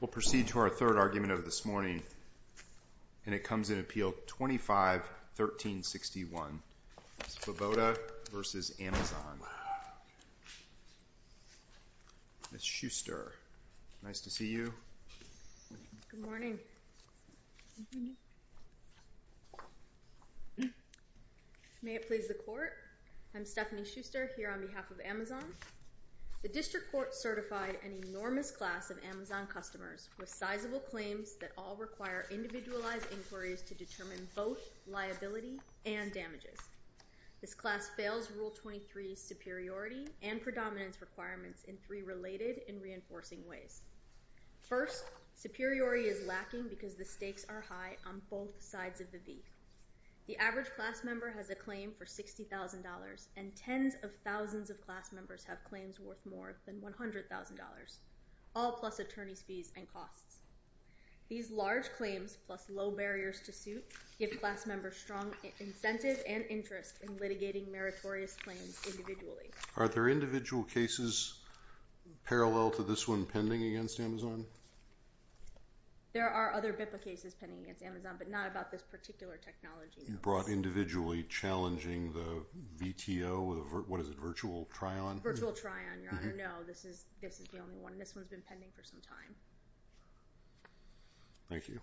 We'll proceed to our third argument of this morning, and it comes in Appeal 25-1361, Svoboda v. Amazon. Ms. Shuster, nice to see you. Good morning. May it please the Court, I'm Stephanie Shuster here on behalf of Amazon. The District Court certified an enormous class of Amazon customers with sizable claims that all require individualized inquiries to determine both liability and damages. This class fails Rule 23's superiority and predominance requirements in three related and reinforcing ways. First, superiority is lacking because the stakes are high on both sides of the V. The average class member has a claim for $60,000 and tens of thousands of class members have claims worth more than $100,000, all plus attorney's fees and costs. These large claims, plus low barriers to suit, give class members strong incentive and interest in litigating meritorious claims individually. Are there individual cases parallel to this one pending against Amazon? There are other BIPA cases pending against Amazon, but not about this particular technology. You brought individually challenging the VTO, what is it, virtual try-on? Virtual try-on, Your Honor. No, this is the only one. This one's been pending for some time. Thank you.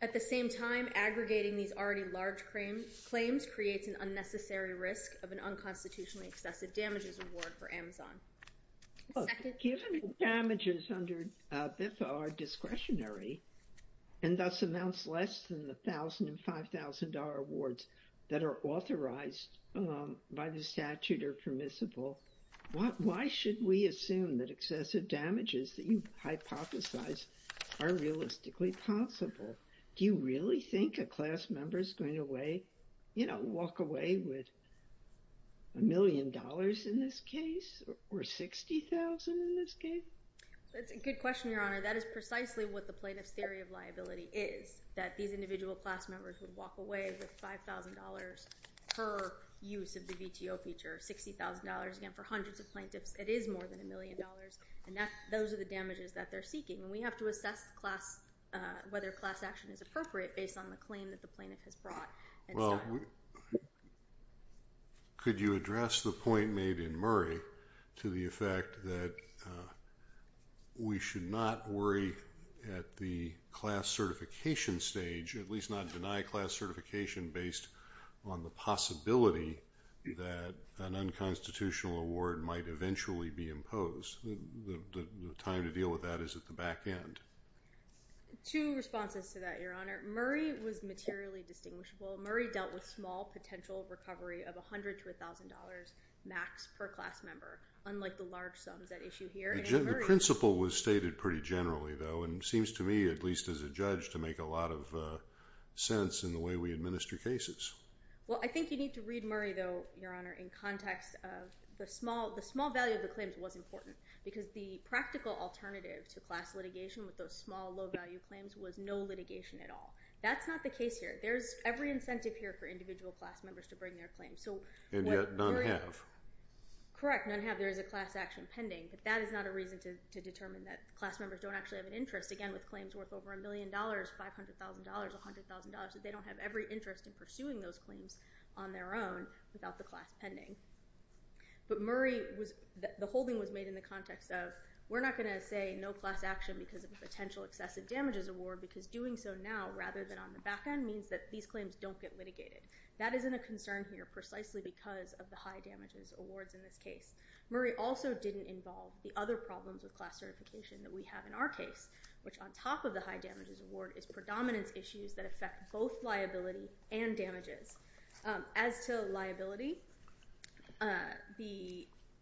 At the same time, aggregating these already large claims creates an unnecessary risk of an unconstitutionally excessive damages award for Amazon. Given damages under BIPA are discretionary, and thus amounts less than the $1,000 and $5,000 awards that are authorized by the statute are permissible, why should we assume that excessive damages that you hypothesize are realistically possible? Do you really think a class member is going to walk away with a million dollars in this case, or $60,000 in this case? That's a good question, Your Honor. That is precisely what the plaintiff's theory of liability is, that these individual class members would walk away with $5,000 per use of the VTO feature, $60,000 again for hundreds of plaintiffs. It is more than a million dollars, and those are the damages that they're seeking. We have to assess whether class action is appropriate based on the claim that the plaintiff has brought. Well, could you address the point made in Murray to the effect that we should not worry at the class certification stage, at least not deny class certification based on the possibility that an unconstitutional award might eventually be imposed? The time to deal with that is at the back end. Two responses to that, Your Honor. Murray was materially distinguishable. Murray dealt with small potential recovery of $100,000 to $1,000 max per class member, unlike the large sums at issue here. The principle was stated pretty generally, though, and seems to me, at least as a judge, to make a lot of sense in the way we administer cases. Well, I think you need to read Murray, though, Your Honor, in context of the small value of the claims was important, because the practical alternative to class litigation with those small low-value claims was no litigation at all. That's not the case here. There's every incentive here for individual class members to bring their claims. And yet, none have. Correct, none have. There is a class action pending, but that is not a reason to determine that class members don't actually have an interest, again, with claims worth over a million dollars, $500,000, $100,000, that they don't have every interest in pursuing those claims on their own without the class pending. But the holding was made in the context of we're not going to say no class action because of a potential excessive damages award, because doing so now rather than on the back end means that these claims don't get litigated. That isn't a concern here precisely because of the high damages awards in this case. Murray also didn't involve the other problems with class certification that we have in our case, which on top of the high damages award is predominance issues that affect both liability and damages. As to liability,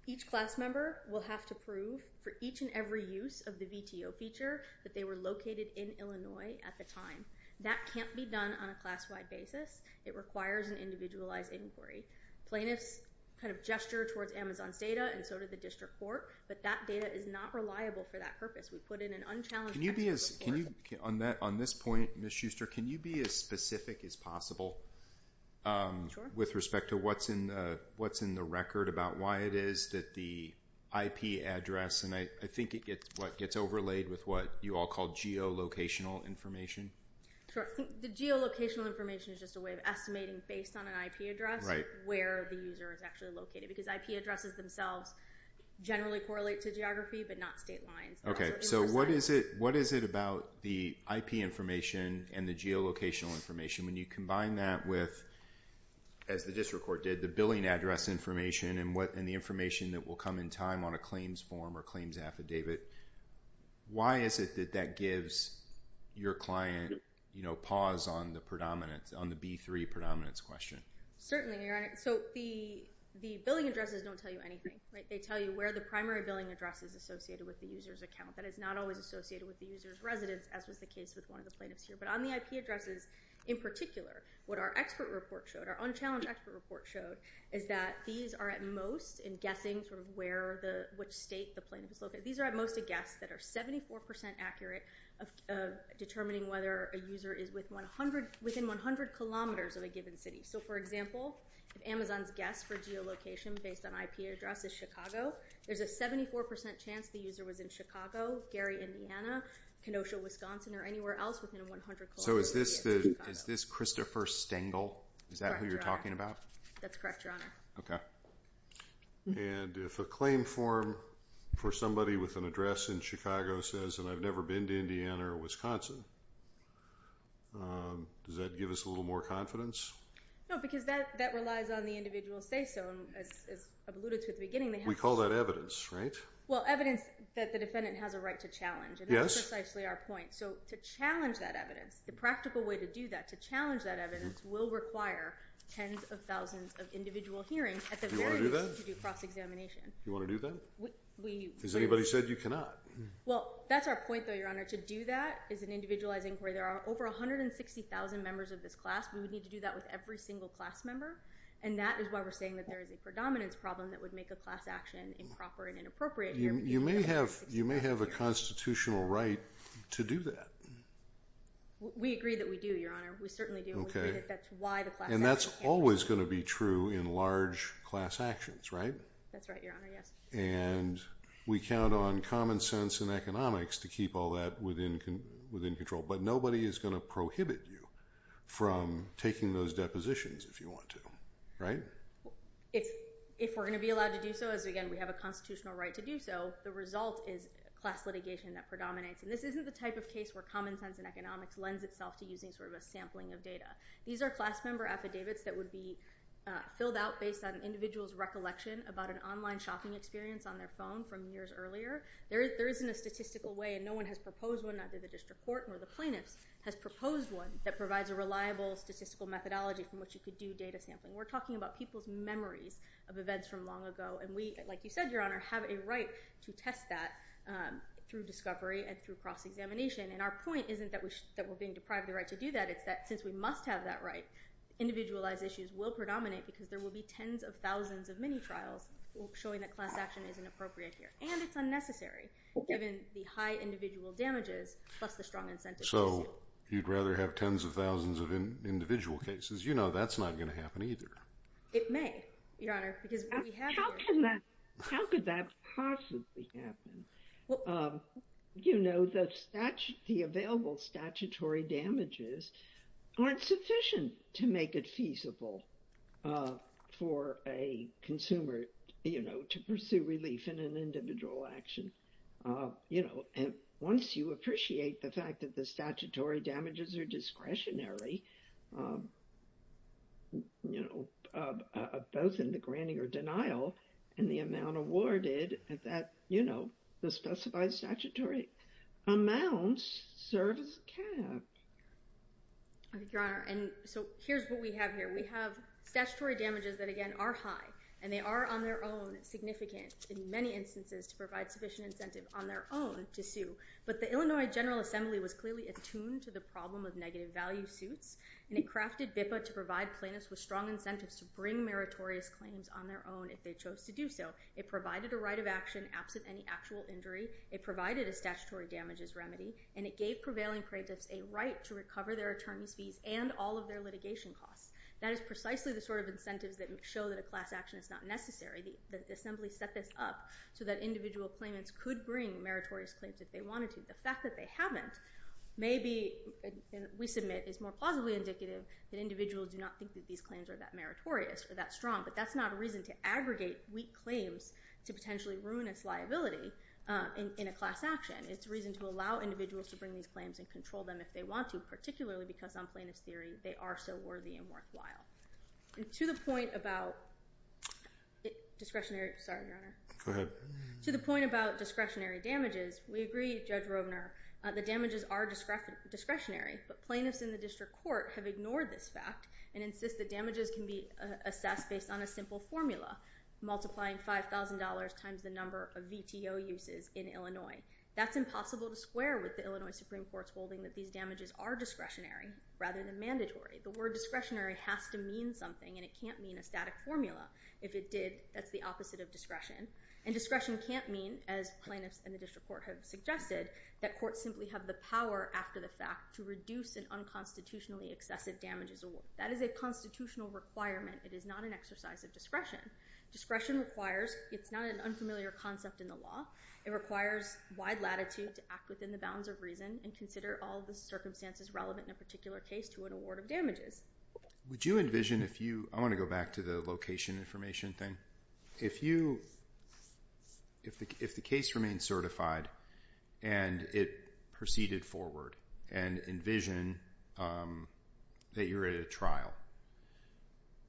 each class member will have to prove for each and every use of the VTO feature that they were located in Illinois at the time. That can't be done on a class-wide basis. It requires an individualized inquiry. Plaintiffs kind of gesture towards Amazon's data and so did the district court, but that data is not reliable for that purpose. We put in an unchallenged... Can you be as... On this point, Ms. Schuster, can you be as specific as possible with respect to what's in the record about why it is that the IP address... I think it gets overlaid with what you all call geolocational information. Sure. I think the geolocational information is just a way of estimating based on an IP address where the user is actually located because IP addresses themselves generally correlate to geography but not state lines. Okay. So what is it about the IP information and the geolocational information when you combine that with, as the district court did, the billing address information and the information that will come in time on a claims form or claims affidavit? Why is it that that gives your client pause on the B3 predominance question? Certainly. So the billing addresses don't tell you anything. They tell you where the primary billing address is associated with the user's account. That is not always associated with the user's residence, as was the case with one of the plaintiffs here. But on the IP addresses in particular, what our expert report showed, our unchallenged expert report showed, is that these are at most in guessing sort of where the... Which state the plaintiff is located. These are at most a guess that are 74% accurate of determining whether a user is within 100 kilometers of a given city. So for example, if Amazon's guess for geolocation based on IP address is Chicago, there's a 74% chance the user was in Chicago, Gary, Indiana, Kenosha, Wisconsin, or anywhere else within 100 kilometers of Chicago. So is this Christopher Stengel? Is that who you're talking about? That's correct, Your Honor. Okay. And if a claim form for somebody with an address in Chicago says, and I've never been to Indiana or Wisconsin, does that give us a little more confidence? No, because that relies on the individual say-so, as alluded to at the beginning. We call that evidence, right? Well, evidence that the defendant has a right to challenge. Yes. And that's precisely our point. So to challenge that evidence, the practical way to do that, to challenge that evidence, will require tens of thousands of individual hearings at the very least to do cross-examination. Do you want to do that? We... Has anybody said you cannot? Well, that's our point though, Your Honor. To do that is an individualized inquiry. There are over 160,000 members of this class. We would need to do that with every single class member. And that is why we're saying that there is a predominance problem that would make a class action improper and inappropriate here. You may have a constitutional right to do that. We agree that we do, Your Honor. We certainly do. Okay. We agree that that's why the class action... And that's always going to be true in large class actions, right? That's right, Your Honor. Yes. And we count on common sense and economics to keep all that within control. But nobody is going to prohibit you from taking those depositions if you want to, right? If we're going to be allowed to do so, as again, we have a constitutional right to do so, the result is class litigation that predominates. And this isn't the type of case where common sense and economics lends itself to using sort of a sampling of data. These are class member affidavits that would be filled out based on an individual's recollection about an online shopping experience on their phone from years earlier. There isn't a statistical way, and no one has proposed one either to the district court or the plaintiffs has proposed one that provides a reliable statistical methodology from which you could do data sampling. We're talking about people's memories of events from long ago. And we, like you said, Your Honor, have a right to test that through discovery and through cross-examination. And our point isn't that we're being deprived the right to do that. It's that since we must have that right, individualized issues will predominate because there will be tens of thousands of mini-trials showing that class action isn't appropriate here. And it's unnecessary, given the high individual damages plus the strong incentives. So, you'd rather have tens of thousands of individual cases? You know that's not going to happen either. It may, Your Honor, because we have... How could that possibly happen? You know, the available statutory damages aren't sufficient to make it feasible for a consumer, you know, to pursue relief in an individual action. You know, and once you appreciate the fact that the statutory damages are discretionary, you know, both in the granting or denial and the amount awarded at that, you know, the specified statutory amounts serve as a cap. Your Honor, and so here's what we have here. We have statutory damages that, again, are high and they are on their own significant in many instances to provide sufficient incentive on their own to sue. But the Illinois General Assembly was clearly attuned to the problem of negative value suits and it crafted BIPA to provide plaintiffs with strong incentives to bring meritorious claims on their own if they chose to do so. It provided a right of action absent any actual injury. It provided a statutory damages remedy and it gave prevailing plaintiffs a right to recover their attorney's fees and all of their litigation costs. That is precisely the sort of incentives that show that a class action is not necessary. The Assembly set this up so that individual claimants could bring meritorious claims if they wanted to. The fact that they haven't may be, and we submit, is more plausibly indicative that individuals do not think that these claims are that meritorious or that strong. But that's not a reason to aggregate weak claims to potentially ruin its liability in a class action. It's a reason to allow individuals to bring these claims and control them if they want to, because on plaintiff's theory, they are so worthy and worthwhile. And to the point about discretionary damages, we agree, Judge Rovner, that damages are discretionary, but plaintiffs in the district court have ignored this fact and insist that damages can be assessed based on a simple formula, multiplying $5,000 times the number of VTO uses in Illinois. That's impossible to square with the Illinois Supreme Court's holding that these damages are discretionary rather than mandatory. The word discretionary has to mean something, and it can't mean a static formula. If it did, that's the opposite of discretion. And discretion can't mean, as plaintiffs in the district court have suggested, that courts simply have the power after the fact to reduce an unconstitutionally excessive damages award. That is a constitutional requirement. It is not an exercise of discretion. Discretion requires... it's not an unfamiliar concept in the law. It requires wide latitude to act within the bounds of reason and consider all the circumstances relevant in a particular case to an award of damages. Would you envision if you... I want to go back to the location information thing. If you... if the case remained certified and it proceeded forward and envision that you're at a trial,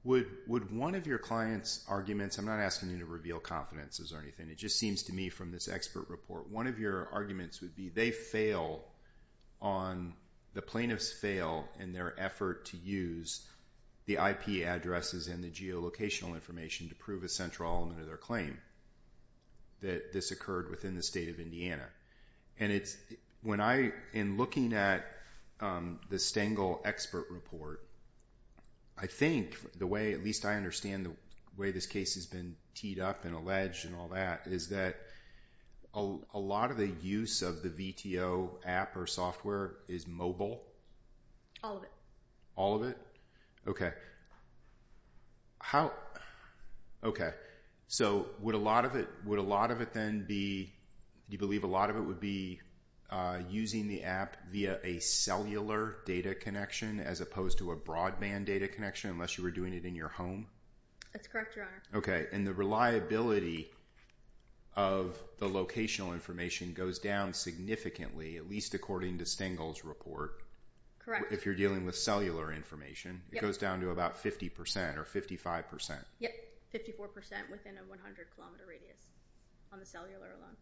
would one of your clients' arguments... I'm not asking you to reveal confidences or anything. It just seems to me from this expert report, one of your arguments would be they fail on... the plaintiffs fail in their effort to use the IP addresses and the geolocational information to prove a central element of their claim, that this occurred within the state of Indiana. And it's... when I... in looking at the Stengel expert report, I think the way... at least I understand the way this case has been teed up and alleged and all that, is that a lot of the use of the VTO app or software is mobile. All of it. All of it? Okay. How... okay. So would a lot of it... would a lot of it then be... do you believe a lot of it would be using the app via a cellular data connection as opposed to a broadband data connection unless you were doing it in your home? That's correct, Your Honor. Okay, and the reliability of the locational information goes down significantly, at least according to Stengel's report. Correct. If you're dealing with cellular information, it goes down to about 50% or 55%. Yep, 54% within a 100-kilometer radius on the cellular alone.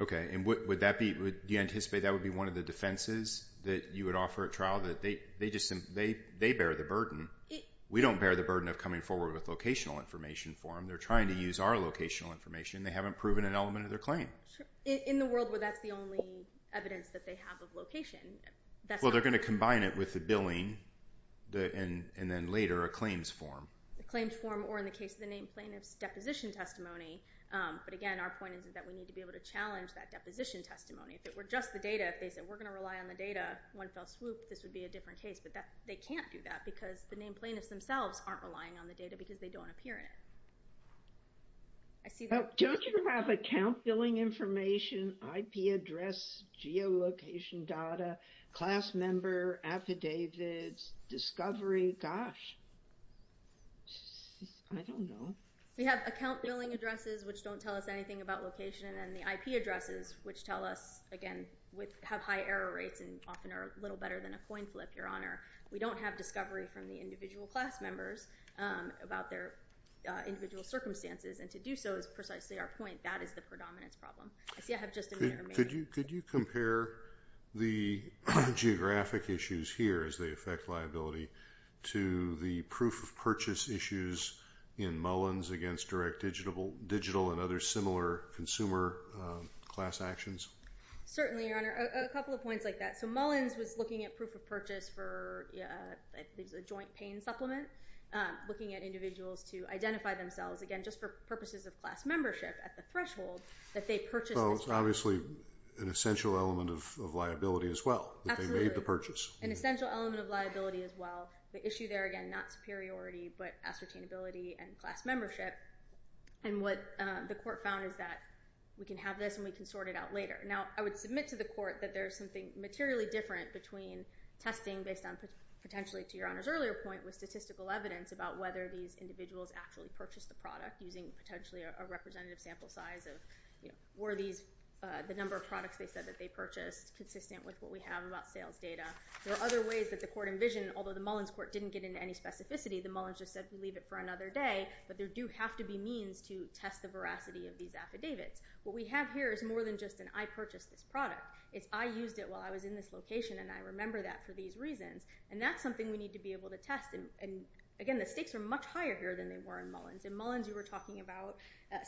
Okay, and would that be... do you anticipate that would be one of the defenses that you would offer at trial that they just... they bear the burden? We don't bear the burden of coming forward with locational information for them. They're trying to use our locational information. They haven't proven an element of their claim. In the world where that's the only evidence that they have of location, that's not... Well, they're gonna combine it with the billing and then later a claims form. A claims form or in the case of the named plaintiff's deposition testimony. But again, our point is that we need to be able to challenge that deposition testimony. If it were just the data, if they said, we're gonna rely on the data, one fell swoop, I think this would be a different case, but they can't do that because the named plaintiffs themselves aren't relying on the data because they don't appear in it. Don't you have account billing information, IP address, geolocation data, class member, affidavits, discovery? Gosh. I don't know. We have account billing addresses which don't tell us anything about location and the IP addresses which tell us, again, have high error rates and often are a little better than a coin flip, Your Honor. We don't have discovery from the individual class members about their individual circumstances and to do so is precisely our point. That is the predominance problem. I see I have just a minute remaining. Could you compare the geographic issues here as they affect liability to the proof of purchase issues in Mullins against Direct Digital and other similar consumer class actions? Certainly, Your Honor. A couple of points like that. Mullins was looking at proof of purchase for a joint pain supplement, looking at individuals to identify themselves, again, just for purposes of class membership at the threshold that they purchased Well, it's obviously an essential element of liability as well. Absolutely. An essential element of liability as well. The issue there, again, not superiority, but ascertainability and class membership and what the court found is that we can have this and we can sort it out later. Now, I would submit to the court that there is something materially different between testing based on potentially, to Your Honor's earlier point, with statistical evidence about whether these individuals actually purchased the product using potentially a representative sample size of were the number of products they said that they purchased consistent with what we have about sales data. There are other ways that the court envisioned, although the Mullins court didn't get into any specificity, the Mullins just said we'll leave it for another day, but there do have to be means to test the veracity of these affidavits. What we have here is more than just an I purchased this product. It's I used it while I was in this location and I remember that for these reasons. And that's something we need to be able to test and, again, the stakes are much higher here than they were in Mullins. In Mullins you were talking about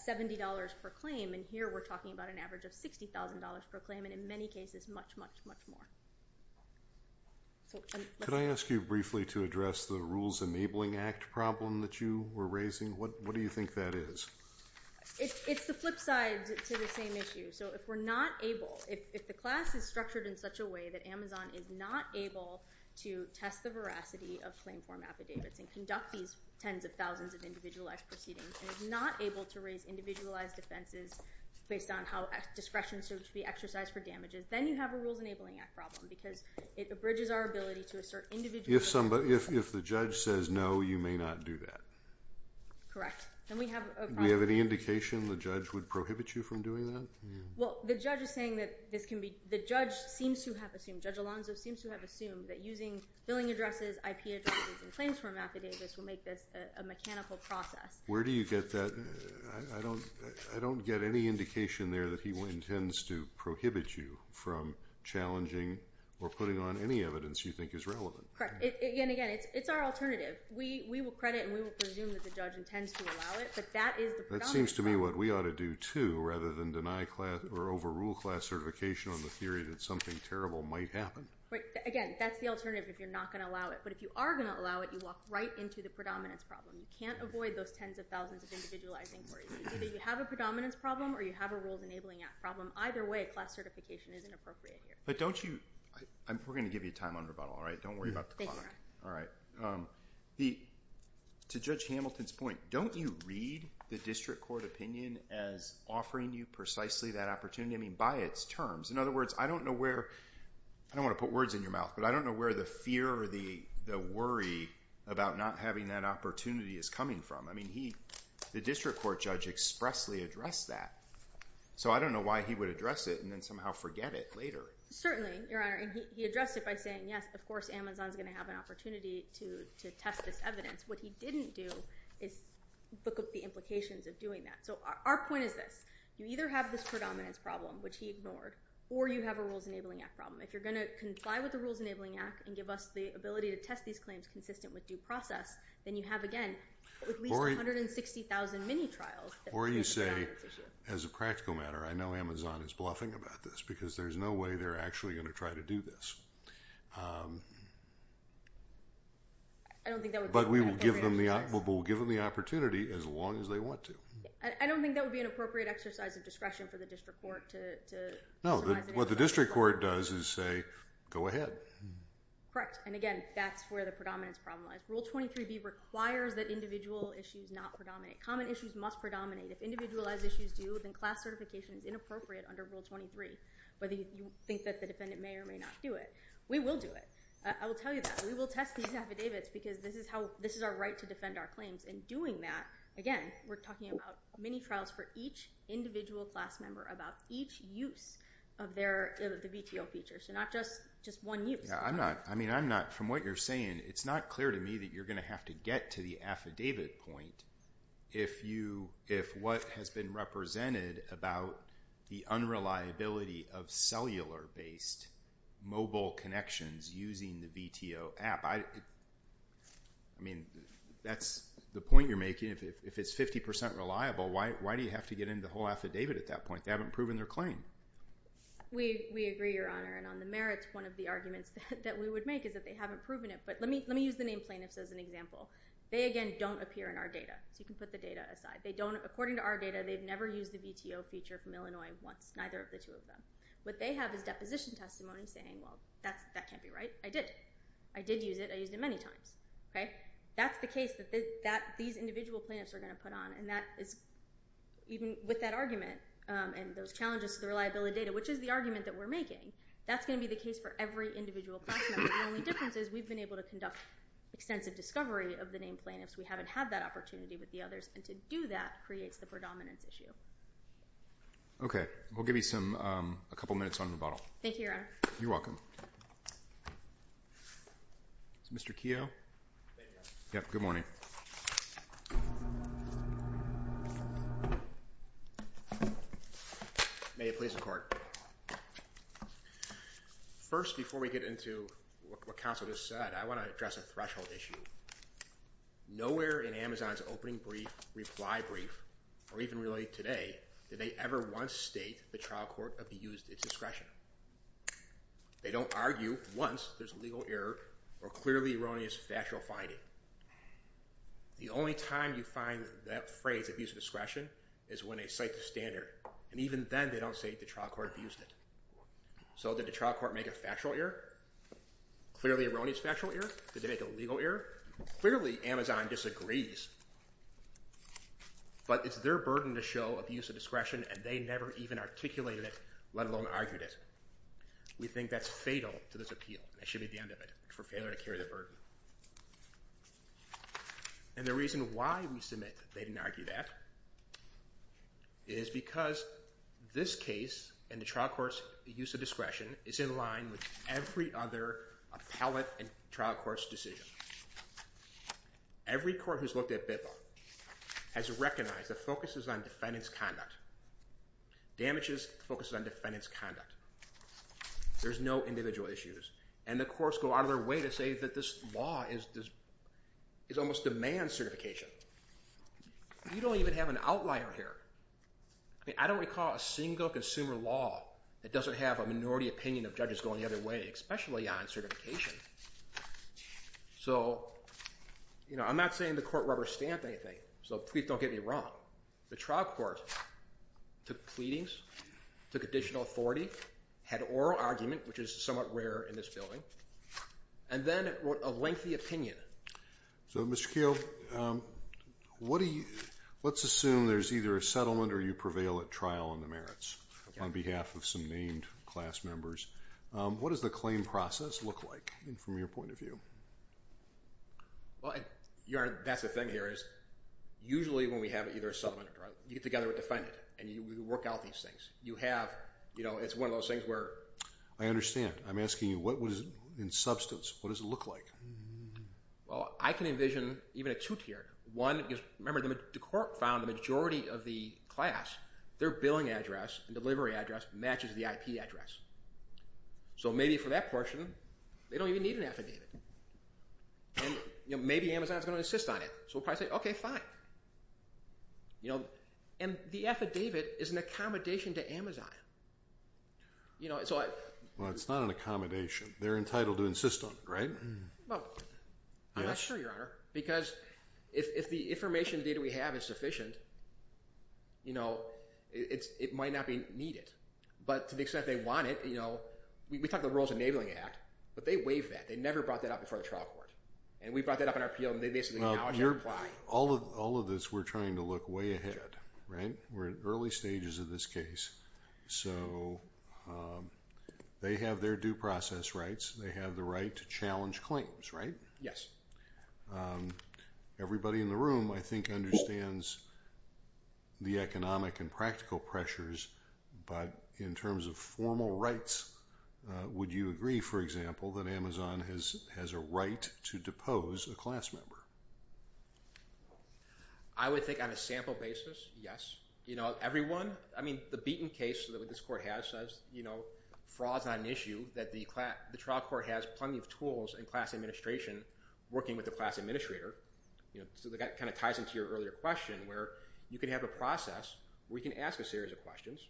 $70 per claim and here we're talking about an average of $60,000 per claim and in many cases much, much, much more. Could I ask you briefly to address the Rules Enabling Act problem that you were raising? What do you think that is? It's the flip side to the same issue. So if we're not able, if the class is structured in such a way that Amazon is not able to test the veracity of claim form affidavits and conduct these tens of thousands of individualized proceedings and is not able to raise individualized offenses based on how discretion should be exercised for damages, then you have a Rules Enabling Act problem because it abridges our ability to assert individualized... If the judge says no, you may not do that. Correct. Do we have any indication the judge would prohibit you from doing that? Well, the judge is saying that the judge seems to have assumed, Judge Alonzo seems to have assumed that using billing addresses, IP addresses, and claims form affidavits will make this a mechanical process. Where do you get that? I don't get any indication there that he intends to prohibit you from challenging or putting on any evidence you think is relevant. Correct. Again, again, it's our alternative. We will credit and we will presume that the judge intends to allow it, but that is the predominant... That seems to me what we ought to do too, rather than deny class or overrule class certification on the theory that something terrible might happen. Again, that's the alternative if you're not going to allow it. But if you are going to allow it, you walk right into the predominance problem. You can't avoid those tens of thousands of individualized inquiries. Either you have a predominance problem or you have a Rules Enabling Act problem. Either way, class certification isn't appropriate here. We're going to give you time on rebuttal. Don't worry about the clock. To Judge Hamilton's point, don't you read the district court opinion as offering you precisely that opportunity by its terms? In other words, I don't know where... I don't want to put words in your mouth, but I don't know where the fear or the worry about not having that opportunity is coming from. The district court judge expressly addressed that. So I don't know why he would address it and then somehow forget it later. Certainly, Your Honor. He addressed it by saying, yes, of course, Amazon's going to have an opportunity to test this evidence. What he didn't do is look at the implications of doing that. Our point is this. You either have this predominance problem, which he ignored, or you have a Rules Enabling Act problem. If you're going to comply with the Rules Enabling Act and give us the ability to test these claims consistent with due process, then you have, again, at least 160,000 mini-trials Or you say, as a practical matter, I know Amazon is bluffing about this because there's no way they're actually going to try to do this. But we will give them the opportunity as long as they want to. I don't think that would be an appropriate exercise of discretion for the district court to No, what the district court does is say, go ahead. Correct. And again, that's where the predominance problem lies. Rule 23B requires that individual issues not predominate. Common issues must predominate. If individualized issues do, then class certification is inappropriate under Rule 23, whether you think that the defendant may or may not do it. We will do it. I will tell you that. We will test these affidavits because this is our right to defend our claims. And doing that, again, we're talking about mini-trials for each individual class member about each use of the VTO feature. So not just one use. From what you're saying, it's not clear to me that you're going to have to get to the affidavit point if what has been represented about the unreliability of cellular based mobile connections using the VTO app. I mean, that's the point you're making. If it's 50% reliable, why do you have to get into the whole affidavit at that point? They haven't proven their claim. We agree, Your Honor. And on the merits, one of the arguments that we would make is that they haven't proven it. But let me use the named plaintiffs as an example. They, again, don't appear in our data. So you can put the data aside. According to our data, they've never used the VTO feature from Illinois once. Neither of the two of them. What they have is deposition testimony saying, well, that can't be right. I did. I did use it. I used it many times. That's the case that these individual plaintiffs are going to put on. Even with that argument and those challenges to the reliability of data, which is the argument that we're making, that's going to be the case for every individual class member. The only difference is we've been able to conduct extensive discovery of the named plaintiffs. We haven't had that opportunity with the others. And to do that creates the predominance issue. Okay. We'll give you a couple minutes on rebuttal. Thank you, Your Honor. You're welcome. Mr. Keough? Good morning. May it please the Court. First, before we get into what counsel just said, I want to address a threshold issue. Nowhere in Amazon's opening brief, reply brief, or even really today, did they ever once state the trial court abused its discretion. They don't argue once there's a legal error or clearly erroneous factual finding. The only time you find that phrase, abuse of discretion, is when they cite the standard. And even then, they don't say the trial court abused it. So did the trial court make a factual error? Clearly erroneous factual error? Did they make a legal error? Clearly, Amazon disagrees. But it's their burden to show abuse of discretion, and they never even articulated it, let alone argued it. We think that's fatal to this appeal, and it should be the end of it, for failure to carry the burden. And the reason why we submit that they didn't argue that is because this case, and the trial court's use of discretion, is in line with every other appellate and trial court's decision. Every court who's looked at BIPA has recognized the focus is on defendant's conduct. Damage's focus is on defendant's conduct. There's no individual issues. And the courts go out of their way to say that this law is almost demand certification. You don't even have an outlier here. I don't recall a single consumer law that doesn't have a minority opinion of judges going the other way, especially on certification. So, you know, I'm not saying the court rubber stamped anything, so please don't get me wrong. The trial court took pleadings, took additional authority, had oral argument, which is somewhat rare in this building, and then wrote a lengthy opinion. So, Mr. Keogh, what do you, let's assume there's either a settlement or you prevail at trial on the merits, on behalf of some named class members. What does the claim process look like, from your point of view? Well, that's the thing here, usually when we have either a settlement or trial, you get together with the defendant, and you work out these things. You have, you know, it's one of those things where... I understand. I'm asking you, what is, in substance, what does it look like? Well, I can envision even a two-tier. One, because remember, the court found the majority of the class, their billing address and delivery address matches the IP address. So maybe for that portion, they don't even need an affidavit. And, you know, maybe Amazon's going to insist on it. So we'll probably say, okay, fine. You know, and the affidavit is an accommodation to Amazon. You know, so I... Well, it's not an accommodation. They're entitled to insist on it, right? Well, I'm not sure, Your Honor, because if the information data we have is sufficient, you know, it might not be needed. But to the extent they want it, you know, we talk about the Rules of Enabling Act, but they waive that. They never brought that up before the trial court. And we brought that up in our appeal, and they basically acknowledge and apply. All of this, we're trying to look way ahead, right? We're in early stages of this case. So, they have their due process rights. They have the right to challenge claims, right? Yes. Everybody in the room, I think, understands the economic and practical pressures, but in terms of formal rights, would you agree, for example, that Amazon has a right to depose a class member? I would think on a sample basis, yes. You know, everyone... I mean, the Beaton case that this court has says, you know, fraud's not an issue, that the trial court has plenty of tools and class administration working with the class administrator. So that kind of ties into your earlier question where you can have a process where you can ask a series of questions.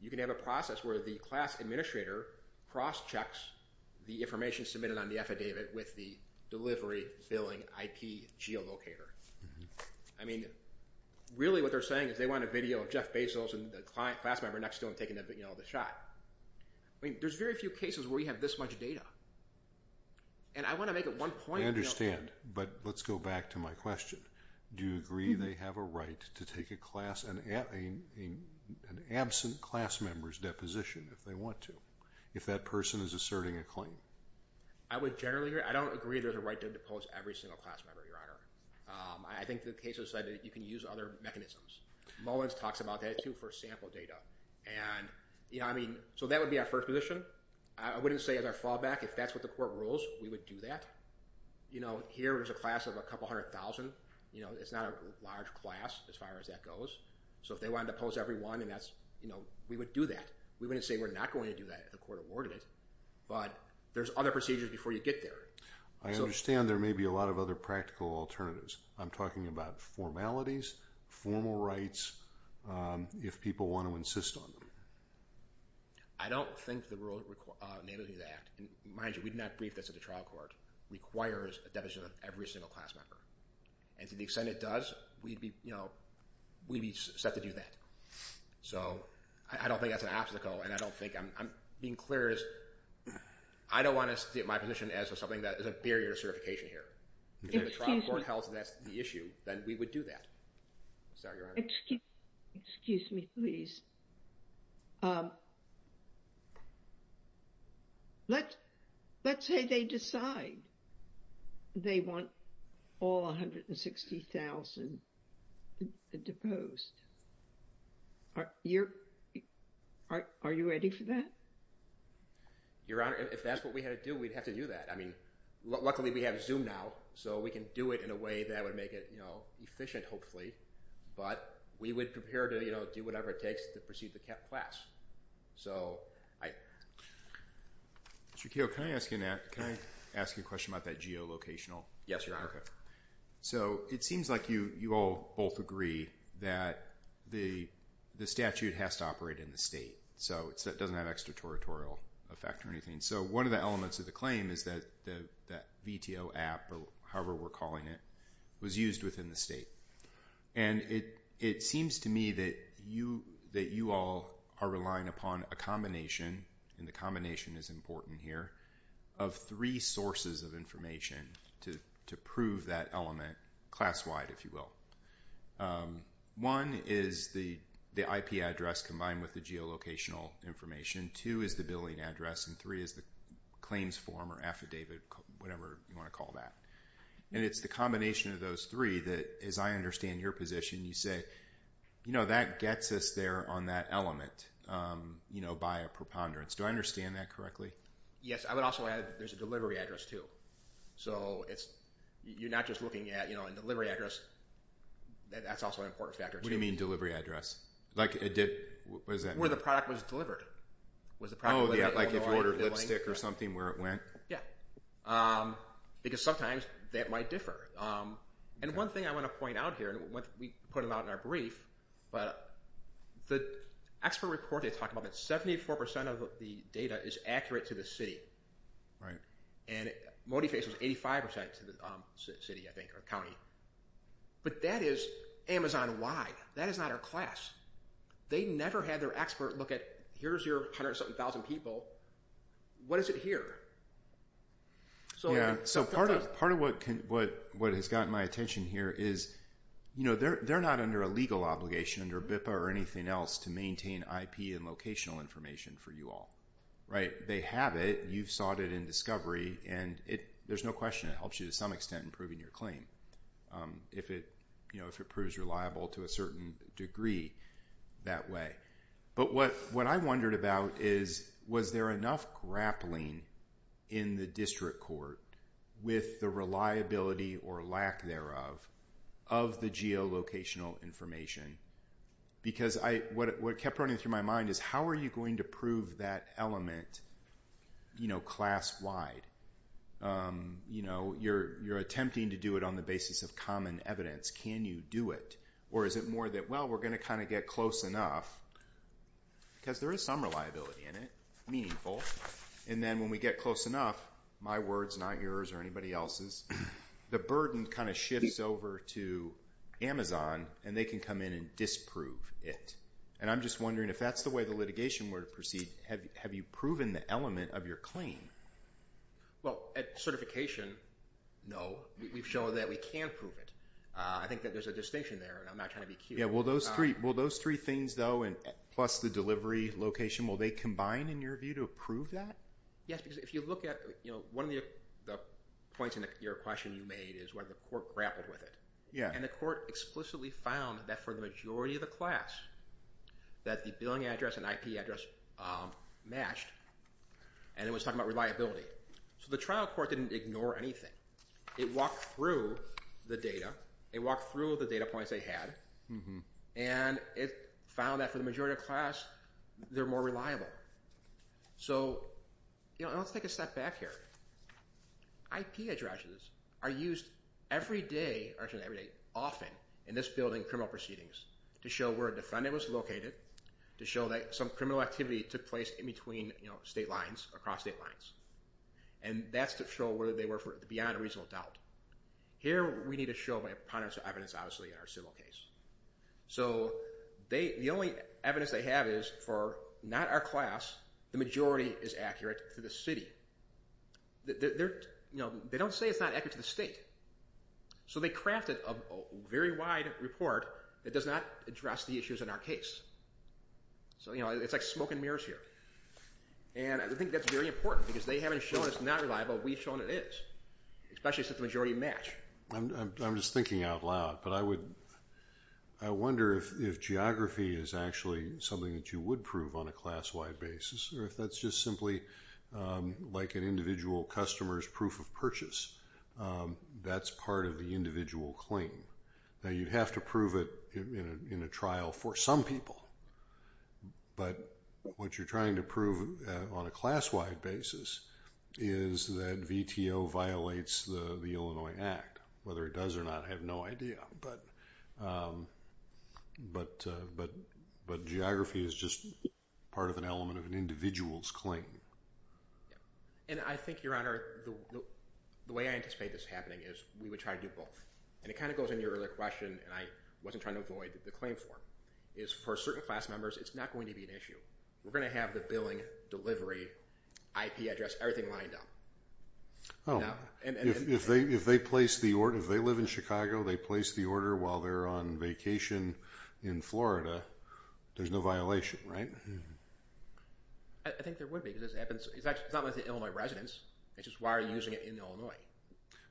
You can have a process where the class administrator cross-checks the information submitted on the affidavit with the delivery billing IP geolocator. I mean, really what they're saying is they want a video of Jeff Bezos and the class member next to him taking the shot. I mean, there's very few cases where you have this much data. And I want to make it one point... I understand, but let's go back to my question. Do you agree they have a right to take a class... an absent class member's deposition, if they want to, if that person is asserting a claim? I would generally agree. I don't agree there's a right to depose every single class member, Your Honor. I think the case has said you can use other mechanisms. Mullins talks about that, too, for sample data. And, you know, I mean, so that would be our first position. I wouldn't say as our fallback, if that's what the court rules, we would do that. You know, here there's a class of a couple hundred thousand. You know, it's not a large class as far as that goes. So if they wanted to depose everyone, we would do that. We wouldn't say we're not going to do that if the court awarded it. But there's other procedures before you get there. I understand there may be a lot of other practical alternatives. I'm talking about formalities, formal rights, if people want to insist on them. I don't think the rule enabling that, and mind you, we did not brief this at the trial court, requires a deposition of every single class member. And to the extent it does, we'd be, you know, we'd be set to do that. So, I don't think that's an obstacle, and I don't think I'm being clear as I don't want to see my position as something that is a barrier to certification here. If the trial court held that's the issue, then we would do that. Excuse me, please. Let's say they decide they want all 160,000 deposed. Are you ready for that? Your Honor, if that's what we had to do, we'd have to do that. I mean, luckily we have Zoom now, so we can do it in a way that would make it, you know, efficient, hopefully. But, we would prepare to, you know, do whatever it takes to proceed the class. So, I... Can I ask you a question about that geolocational? Yes, Your Honor. So, it seems like you all both agree that the statute has to operate in the state. So, it doesn't have extratoratorial effect or anything. So, one of the elements of the claim is that VTO app, or however we're calling it, was used within the state. And, it seems to me that you all are relying upon a combination and the combination is important here, of three sources of information to prove that element class-wide, if you will. One is the IP address combined with the geolocational information, two is the billing address, and three is the claims form or affidavit, whatever you want to call that. And, it's the combination of those three that, as I understand your position, you say, you know, that gets us there on that element, you know, by a preponderance. Do I understand that correctly? Yes, I would also add that there's a delivery address too. So, it's... You're not just looking at, you know, a delivery address. That's also an important factor too. What do you mean delivery address? Like, what does that mean? Where the product was delivered. Oh, yeah, like if you ordered lipstick or something, where it went? Yeah. Because sometimes, that might differ. And, one thing I want to point out here, we put it out in our brief, but, the expert report they talked about, that 74% of the data is accurate to the city. Right. And, ModiFace was 85% to the city, I think, or county. But, that is Amazon-wide. That is not our class. They never had their expert look at, here's your 170,000 people. What is it here? Yeah. So, part of what has gotten my attention here is you know, they're not under a legal obligation under BIPA or anything else to maintain IP and locational information for you all. Right? They have it. You've sought it in Discovery and there's no question it helps you to some extent in proving your claim. If it proves reliable to a certain degree that way. But, what I wondered about is was there enough grappling in the district court with the reliability or lack thereof of the geolocational information because what kept running through my mind is how are you going to prove that element class-wide? You know, you're attempting to do it on the basis of common evidence. Can you do it? Or is it more that, well, we're going to kind of get close enough because there is some reliability in it meaningful, and then when we get close enough, my words, not yours or anybody else's, the burden kind of shifts over to Amazon and they can come in and disprove it. And I'm just wondering if that's the way the litigation were to proceed, have you proven the element of your claim? Well, at certification, no. We've shown that we can prove it. I think that there's a distinction there and I'm not trying to be cute. Will those three things though, plus the delivery location, will they combine in your view to prove that? Yes, because if you look at, one of the points in your question you made is whether the court grappled with it. And the court explicitly found that for the majority of the class that the billing address and IP address matched and it was talking about reliability. So the trial court didn't ignore anything. It walked through the data, it walked through the data points they had, and it found that for the majority of the class they're more reliable. So, you know, let's take a step back here. IP addresses are used every day, actually not every day, often, in this building, criminal proceedings to show where a defendant was located to show that some criminal activity took place in between state lines across state lines. And that's to show whether they were beyond a reasonable doubt. Here we need to show by a preponderance of evidence, obviously, in our civil case. So the only evidence they have is for not our class the majority is accurate to the city. They don't say it's not accurate to the state. So they crafted a very wide report that does not address the issues in our case. So, you know, it's like smoke and mirrors here. And I think that's very important because they haven't shown it's not reliable, we've shown it is. Especially since the majority match. I'm just thinking out loud, but I would I wonder if geography is actually something that you would prove on a class-wide basis, or if that's just simply like an individual customer's proof of purchase. That's part of the individual claim. Now you'd have to prove it in a trial for some people. But what you're trying to prove on a class-wide basis is that VTO violates the Illinois Act. Whether it does or not, I have no idea. But geography is just part of an element of an individual's claim. And I think, Your Honor, the way I anticipate this happening is we would try to do both. And it kind of goes into your earlier question, and I wasn't trying to avoid the claim form, is for certain class members, it's not going to be an issue. We're going to have the billing, delivery, IP address, everything lined up. Oh. If they place the order, if they live in Chicago, they place the order while they're on vacation in Florida, there's no violation. Right? I think there would be. It's not like the Illinois residents. It's just why are they using it in Illinois?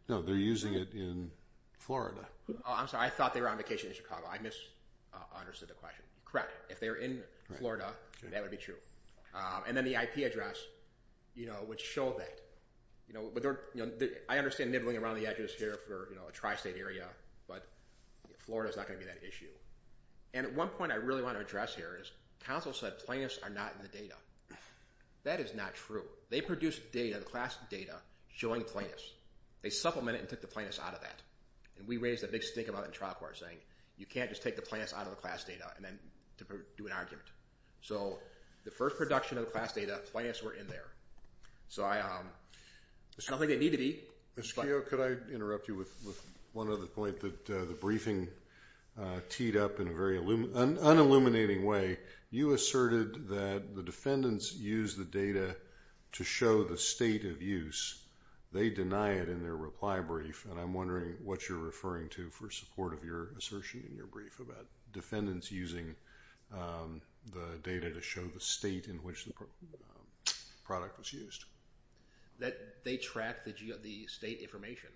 No, they're using it in Florida. Oh, I'm sorry. I thought they were on vacation in Chicago. I misunderstood the question. Correct. If they're in Florida, that would be true. And then the IP address would show that. I understand nibbling around the edges here for a tri-state area, but Florida's not going to be that issue. And one point I really want to address here is counsel said plaintiffs are not in the data. That is not true. They produced data, the class data showing plaintiffs. They supplemented and took the plaintiffs out of that. And we raised a big stink about it in trial court saying you can't just take the plaintiffs out of the class data and then do an argument. So the first production of the class data plaintiffs were in there. So I don't think they need to be. Ms. Keough, could I interrupt you with one other point that the briefing teed up in a very unilluminating way. You asserted that the defendants use the data to show the state of use. They deny it in their reply brief and I'm wondering what you're referring to for support of your assertion in your brief about defendants using the data to show the state in which the product was used. They track the state information.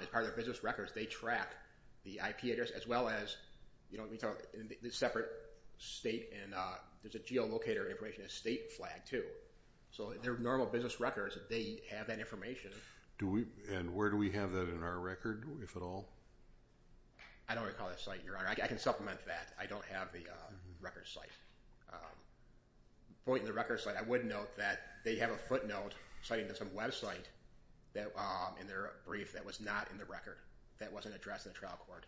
As part of their business records, they track the IP address as well as the separate state and there's a geolocator information state flag too. So their normal business records, they have that information. And where do we have that in our record if at all? I don't recall that site your honor. I can supplement that. I don't have the record site. The point in the record site, I would note that they have a footnote citing some website in their brief that was not in the record that wasn't addressed in the trial court.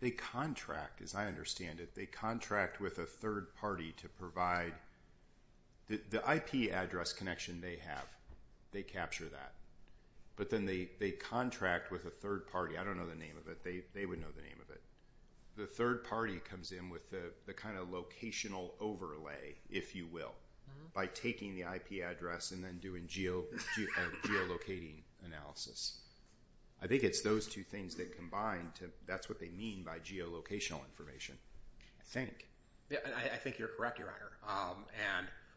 They contract as I understand it, they contract with a third party to provide the IP address connection they have. They capture that. But then they contract with a third party. I don't know the name of it. They would know the name of it. The third party comes in with the kind of locational overlay, if you will. By taking the IP address and then doing geolocating analysis. I think it's those two things that combine that's what they mean by geolocational information. I think. I think you're correct, your honor.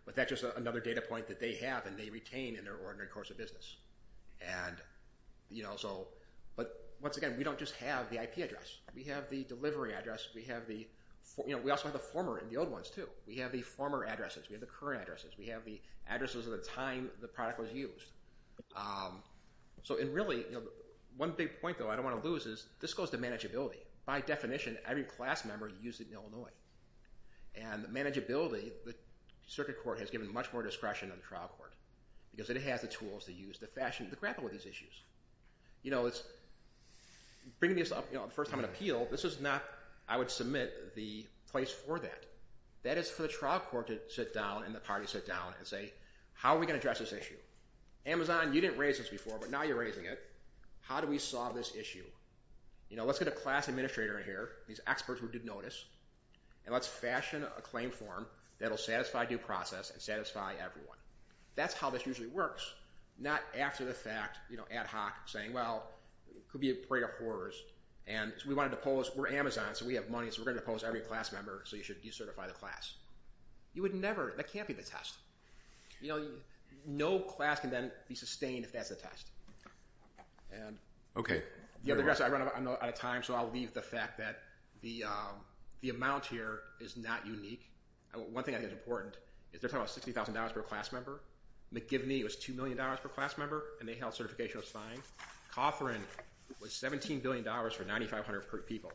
But that's just another data point that they have and they retain in their ordinary course of business. But once again, we don't just have the IP address. We have the delivery address. We also have the former and the old ones too. We have the former addresses. We have the current addresses. We have the addresses of the time the product was used. So really one big point, though, I don't want to lose is this goes to manageability. By definition, every class member used it in Illinois. And manageability the circuit court has given much more discretion than the trial court. Because it has the tools to use, the fashion, to grapple with these issues. Bringing this up the first time in an appeal, this is not, I would submit the place for that. That is for the trial court to sit down and the party sit down and say how are we going to address this issue? Amazon, you didn't raise this before, but now you're raising it. How do we solve this issue? Let's get a class administrator in here, these experts who did notice, and let's fashion a claim form that will satisfy due process and satisfy everyone. That's how this usually works. Not after the fact, ad hoc, saying well, it could be a parade of horrors and we wanted to pose, we're Amazon, so we have money, so we're going to pose every class member, so you should decertify the class. You would never, that can't be the test. You know, no class can then be sustained if that's the test. Okay. I'm running out of time, so I'll leave the fact that the amount here is not unique. One thing I think is important is they're talking about $60,000 per class member. McGivney was $2 million per class member, and they held certification of sign. Cawthorne was $17 billion for 9,500 people.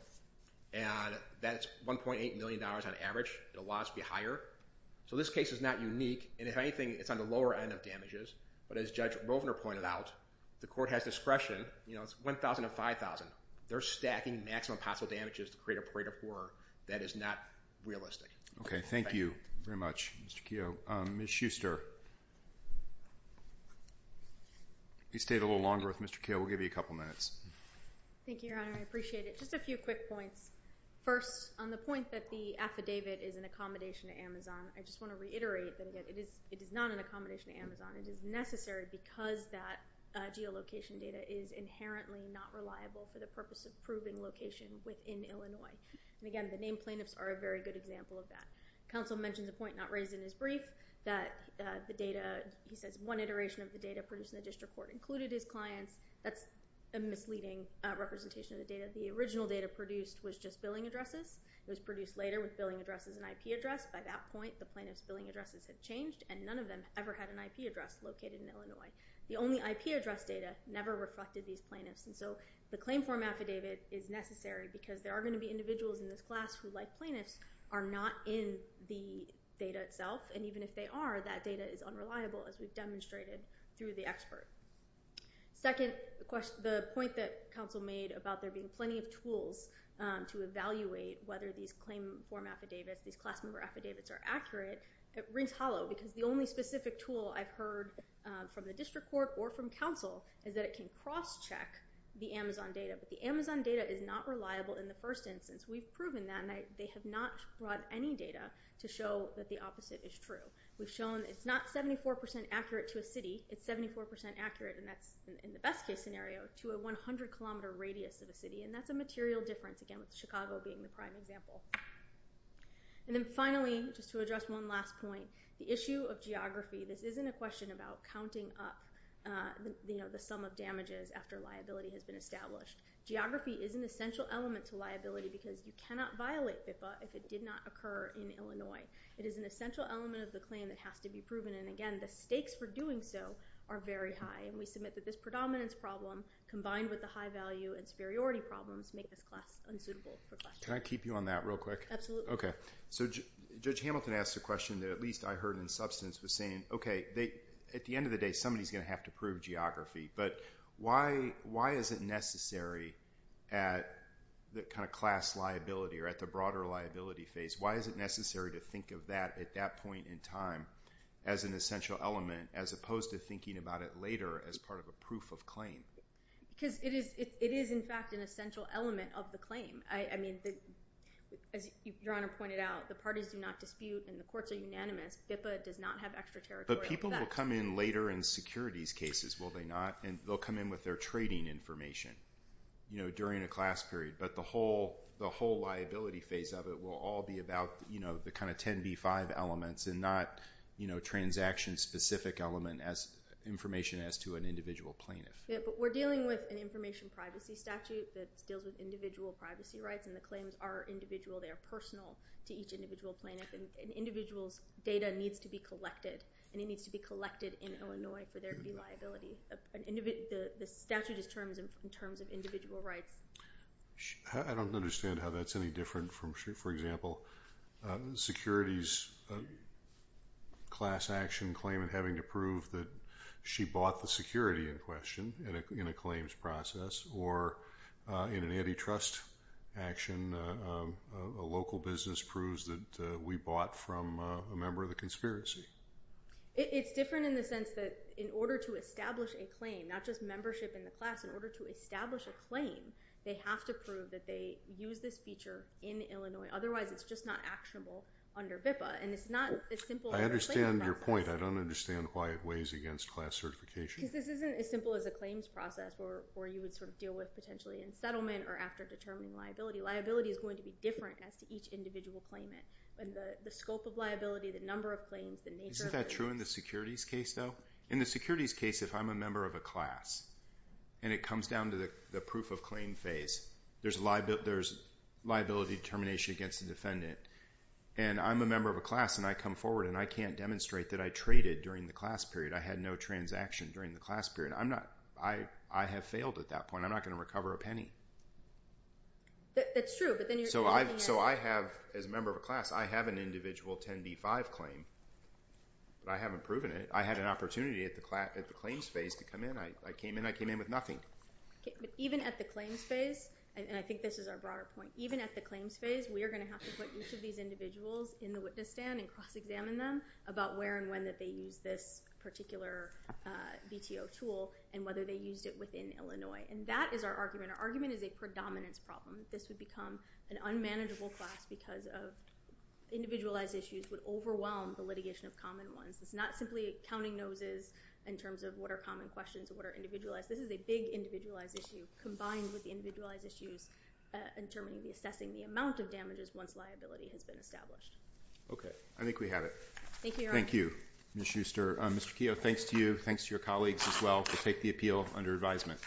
And that's $1.8 million on average, it allows to be higher. So this case is not unique, and if anything, it's on the lower end of damages. But as Judge Rovner pointed out, the court has discretion, you know, it's $1,000 to $5,000. They're stacking maximum possible damages to create a parade of horror that is not realistic. Okay, thank you very much, Mr. Keough. Ms. Schuster. You stayed a little longer with Mr. Keough. We'll give you a couple minutes. Thank you, Your Honor. I appreciate it. Just a few quick points. First, on the point that the affidavit is an accommodation to Amazon, I just want to reiterate that it is not an accommodation to Amazon. It is necessary because that geolocation data is inherently not reliable for the purpose of proving location within Illinois. And again, the named plaintiffs are a very good example of that. Counsel mentions a point not raised in his brief that the data, he says one iteration of the data produced in the district court included his clients. That's a misleading representation of the data. The original data produced was just billing addresses. It was produced later with billing addresses and IP address. By that point, the plaintiff's billing addresses had changed and none of them ever had an IP address located in Illinois. The only IP address data never reflected these plaintiffs. And so the claim form affidavit is necessary because there are going to be individuals in this class who, like plaintiffs, are not in the data itself. And even if they are, that data is unreliable as we've demonstrated through the expert. Second, the point that counsel made about there being plenty of tools to evaluate whether these claim form affidavits, these class member affidavits are accurate, it rings hollow because the only specific tool I've heard from the district court or from counsel is that it can cross-check the Amazon data. But the Amazon data is not reliable in the first instance. We've proven that and they have not brought any data to show that the opposite is true. We've shown it's not 74% accurate to a city. It's 74% accurate and that's in the best case scenario to a 100 kilometer radius of a city and that's a material difference, again, with Chicago being the prime example. And then finally, just to address one last point, the issue of geography, this isn't a question about counting up the sum of damages after liability has been established. Geography is an essential element to liability because you cannot violate FIPPA if it did not occur in Illinois. It is an essential element of the claim that has to be proven and, again, the stakes for doing so are very high and we submit that this predominance problem combined with the high value and superiority problems make this class unsuitable for questions. Can I keep you on that real quick? Absolutely. So Judge Hamilton asked a question that at least I heard in substance saying, okay, at the end of the day somebody's going to have to prove geography, but why is it necessary at the kind of class liability or at the broader liability phase, why is it necessary to think of that at that point in time as an essential element as opposed to thinking about it later as part of a proof of claim? Because it is, in fact, an essential element of the claim. As Your Honor pointed out, the parties do not dispute and the courts are unanimous. FIPPA does not have extra territorial effects. But people will come in later in securities cases, will they not? They'll come in with their trading information during a class period, but the whole liability phase of it will all be about the 10B5 elements and not transaction specific element information as to an individual plaintiff. Yeah, but we're dealing with an information privacy statute that deals with individual privacy rights and the claims are individual, they are personal to each individual plaintiff. An individual's data needs to be collected and it needs to be collected in Illinois for there to be liability. The statute is terms of individual rights. I don't understand how that's any different from, for example, securities class action claimant having to prove that she bought the security in question in a claims process or in an antitrust action a local business proves that we bought from a member of the conspiracy. It's different in the sense that in order to establish a claim, not just membership in the class, in order to establish a claim they have to prove that they used this feature in Illinois. Otherwise, it's just not actionable under BIPA. I understand your point. I don't understand why it weighs against class certification. Because this isn't as simple as a claims process where you would sort of deal with potentially in settlement or after determining liability. Liability is going to be different as to each individual claimant. The scope of liability, the number of claims Isn't that true in the securities case though? In the securities case, if I'm a member of a class and it comes down to the proof of claim phase there's liability determination against the defendant and I'm a member of a class and I come forward and I can't demonstrate that I traded during the class period. I had no transaction during the class period. I have failed at that point. I'm not going to recover a penny. That's true. As a member of a class, I have an individual 10B5 claim but I haven't proven it. I had an opportunity at the claims phase to come in. I came in with nothing. Even at the claims phase and I think this is our broader point even at the claims phase, we are going to have to put each of these individuals in the witness stand and cross examine them about where and when that they used this particular BTO tool and whether they used it within Illinois. And that is our argument. Our argument is a predominance problem. This would become an unmanageable class because of individualized issues would overwhelm the litigation of common ones. It's not simply counting noses in terms of what are common questions and what are individualized. This is a big individualized issue combined with individualized issues in terms of assessing the amount of damages once liability has been established. I think we have it. Thank you. Thank you, Ms. Schuster. Mr. Keough, thanks to you. Thanks to your colleagues as well to take the appeal under advisement.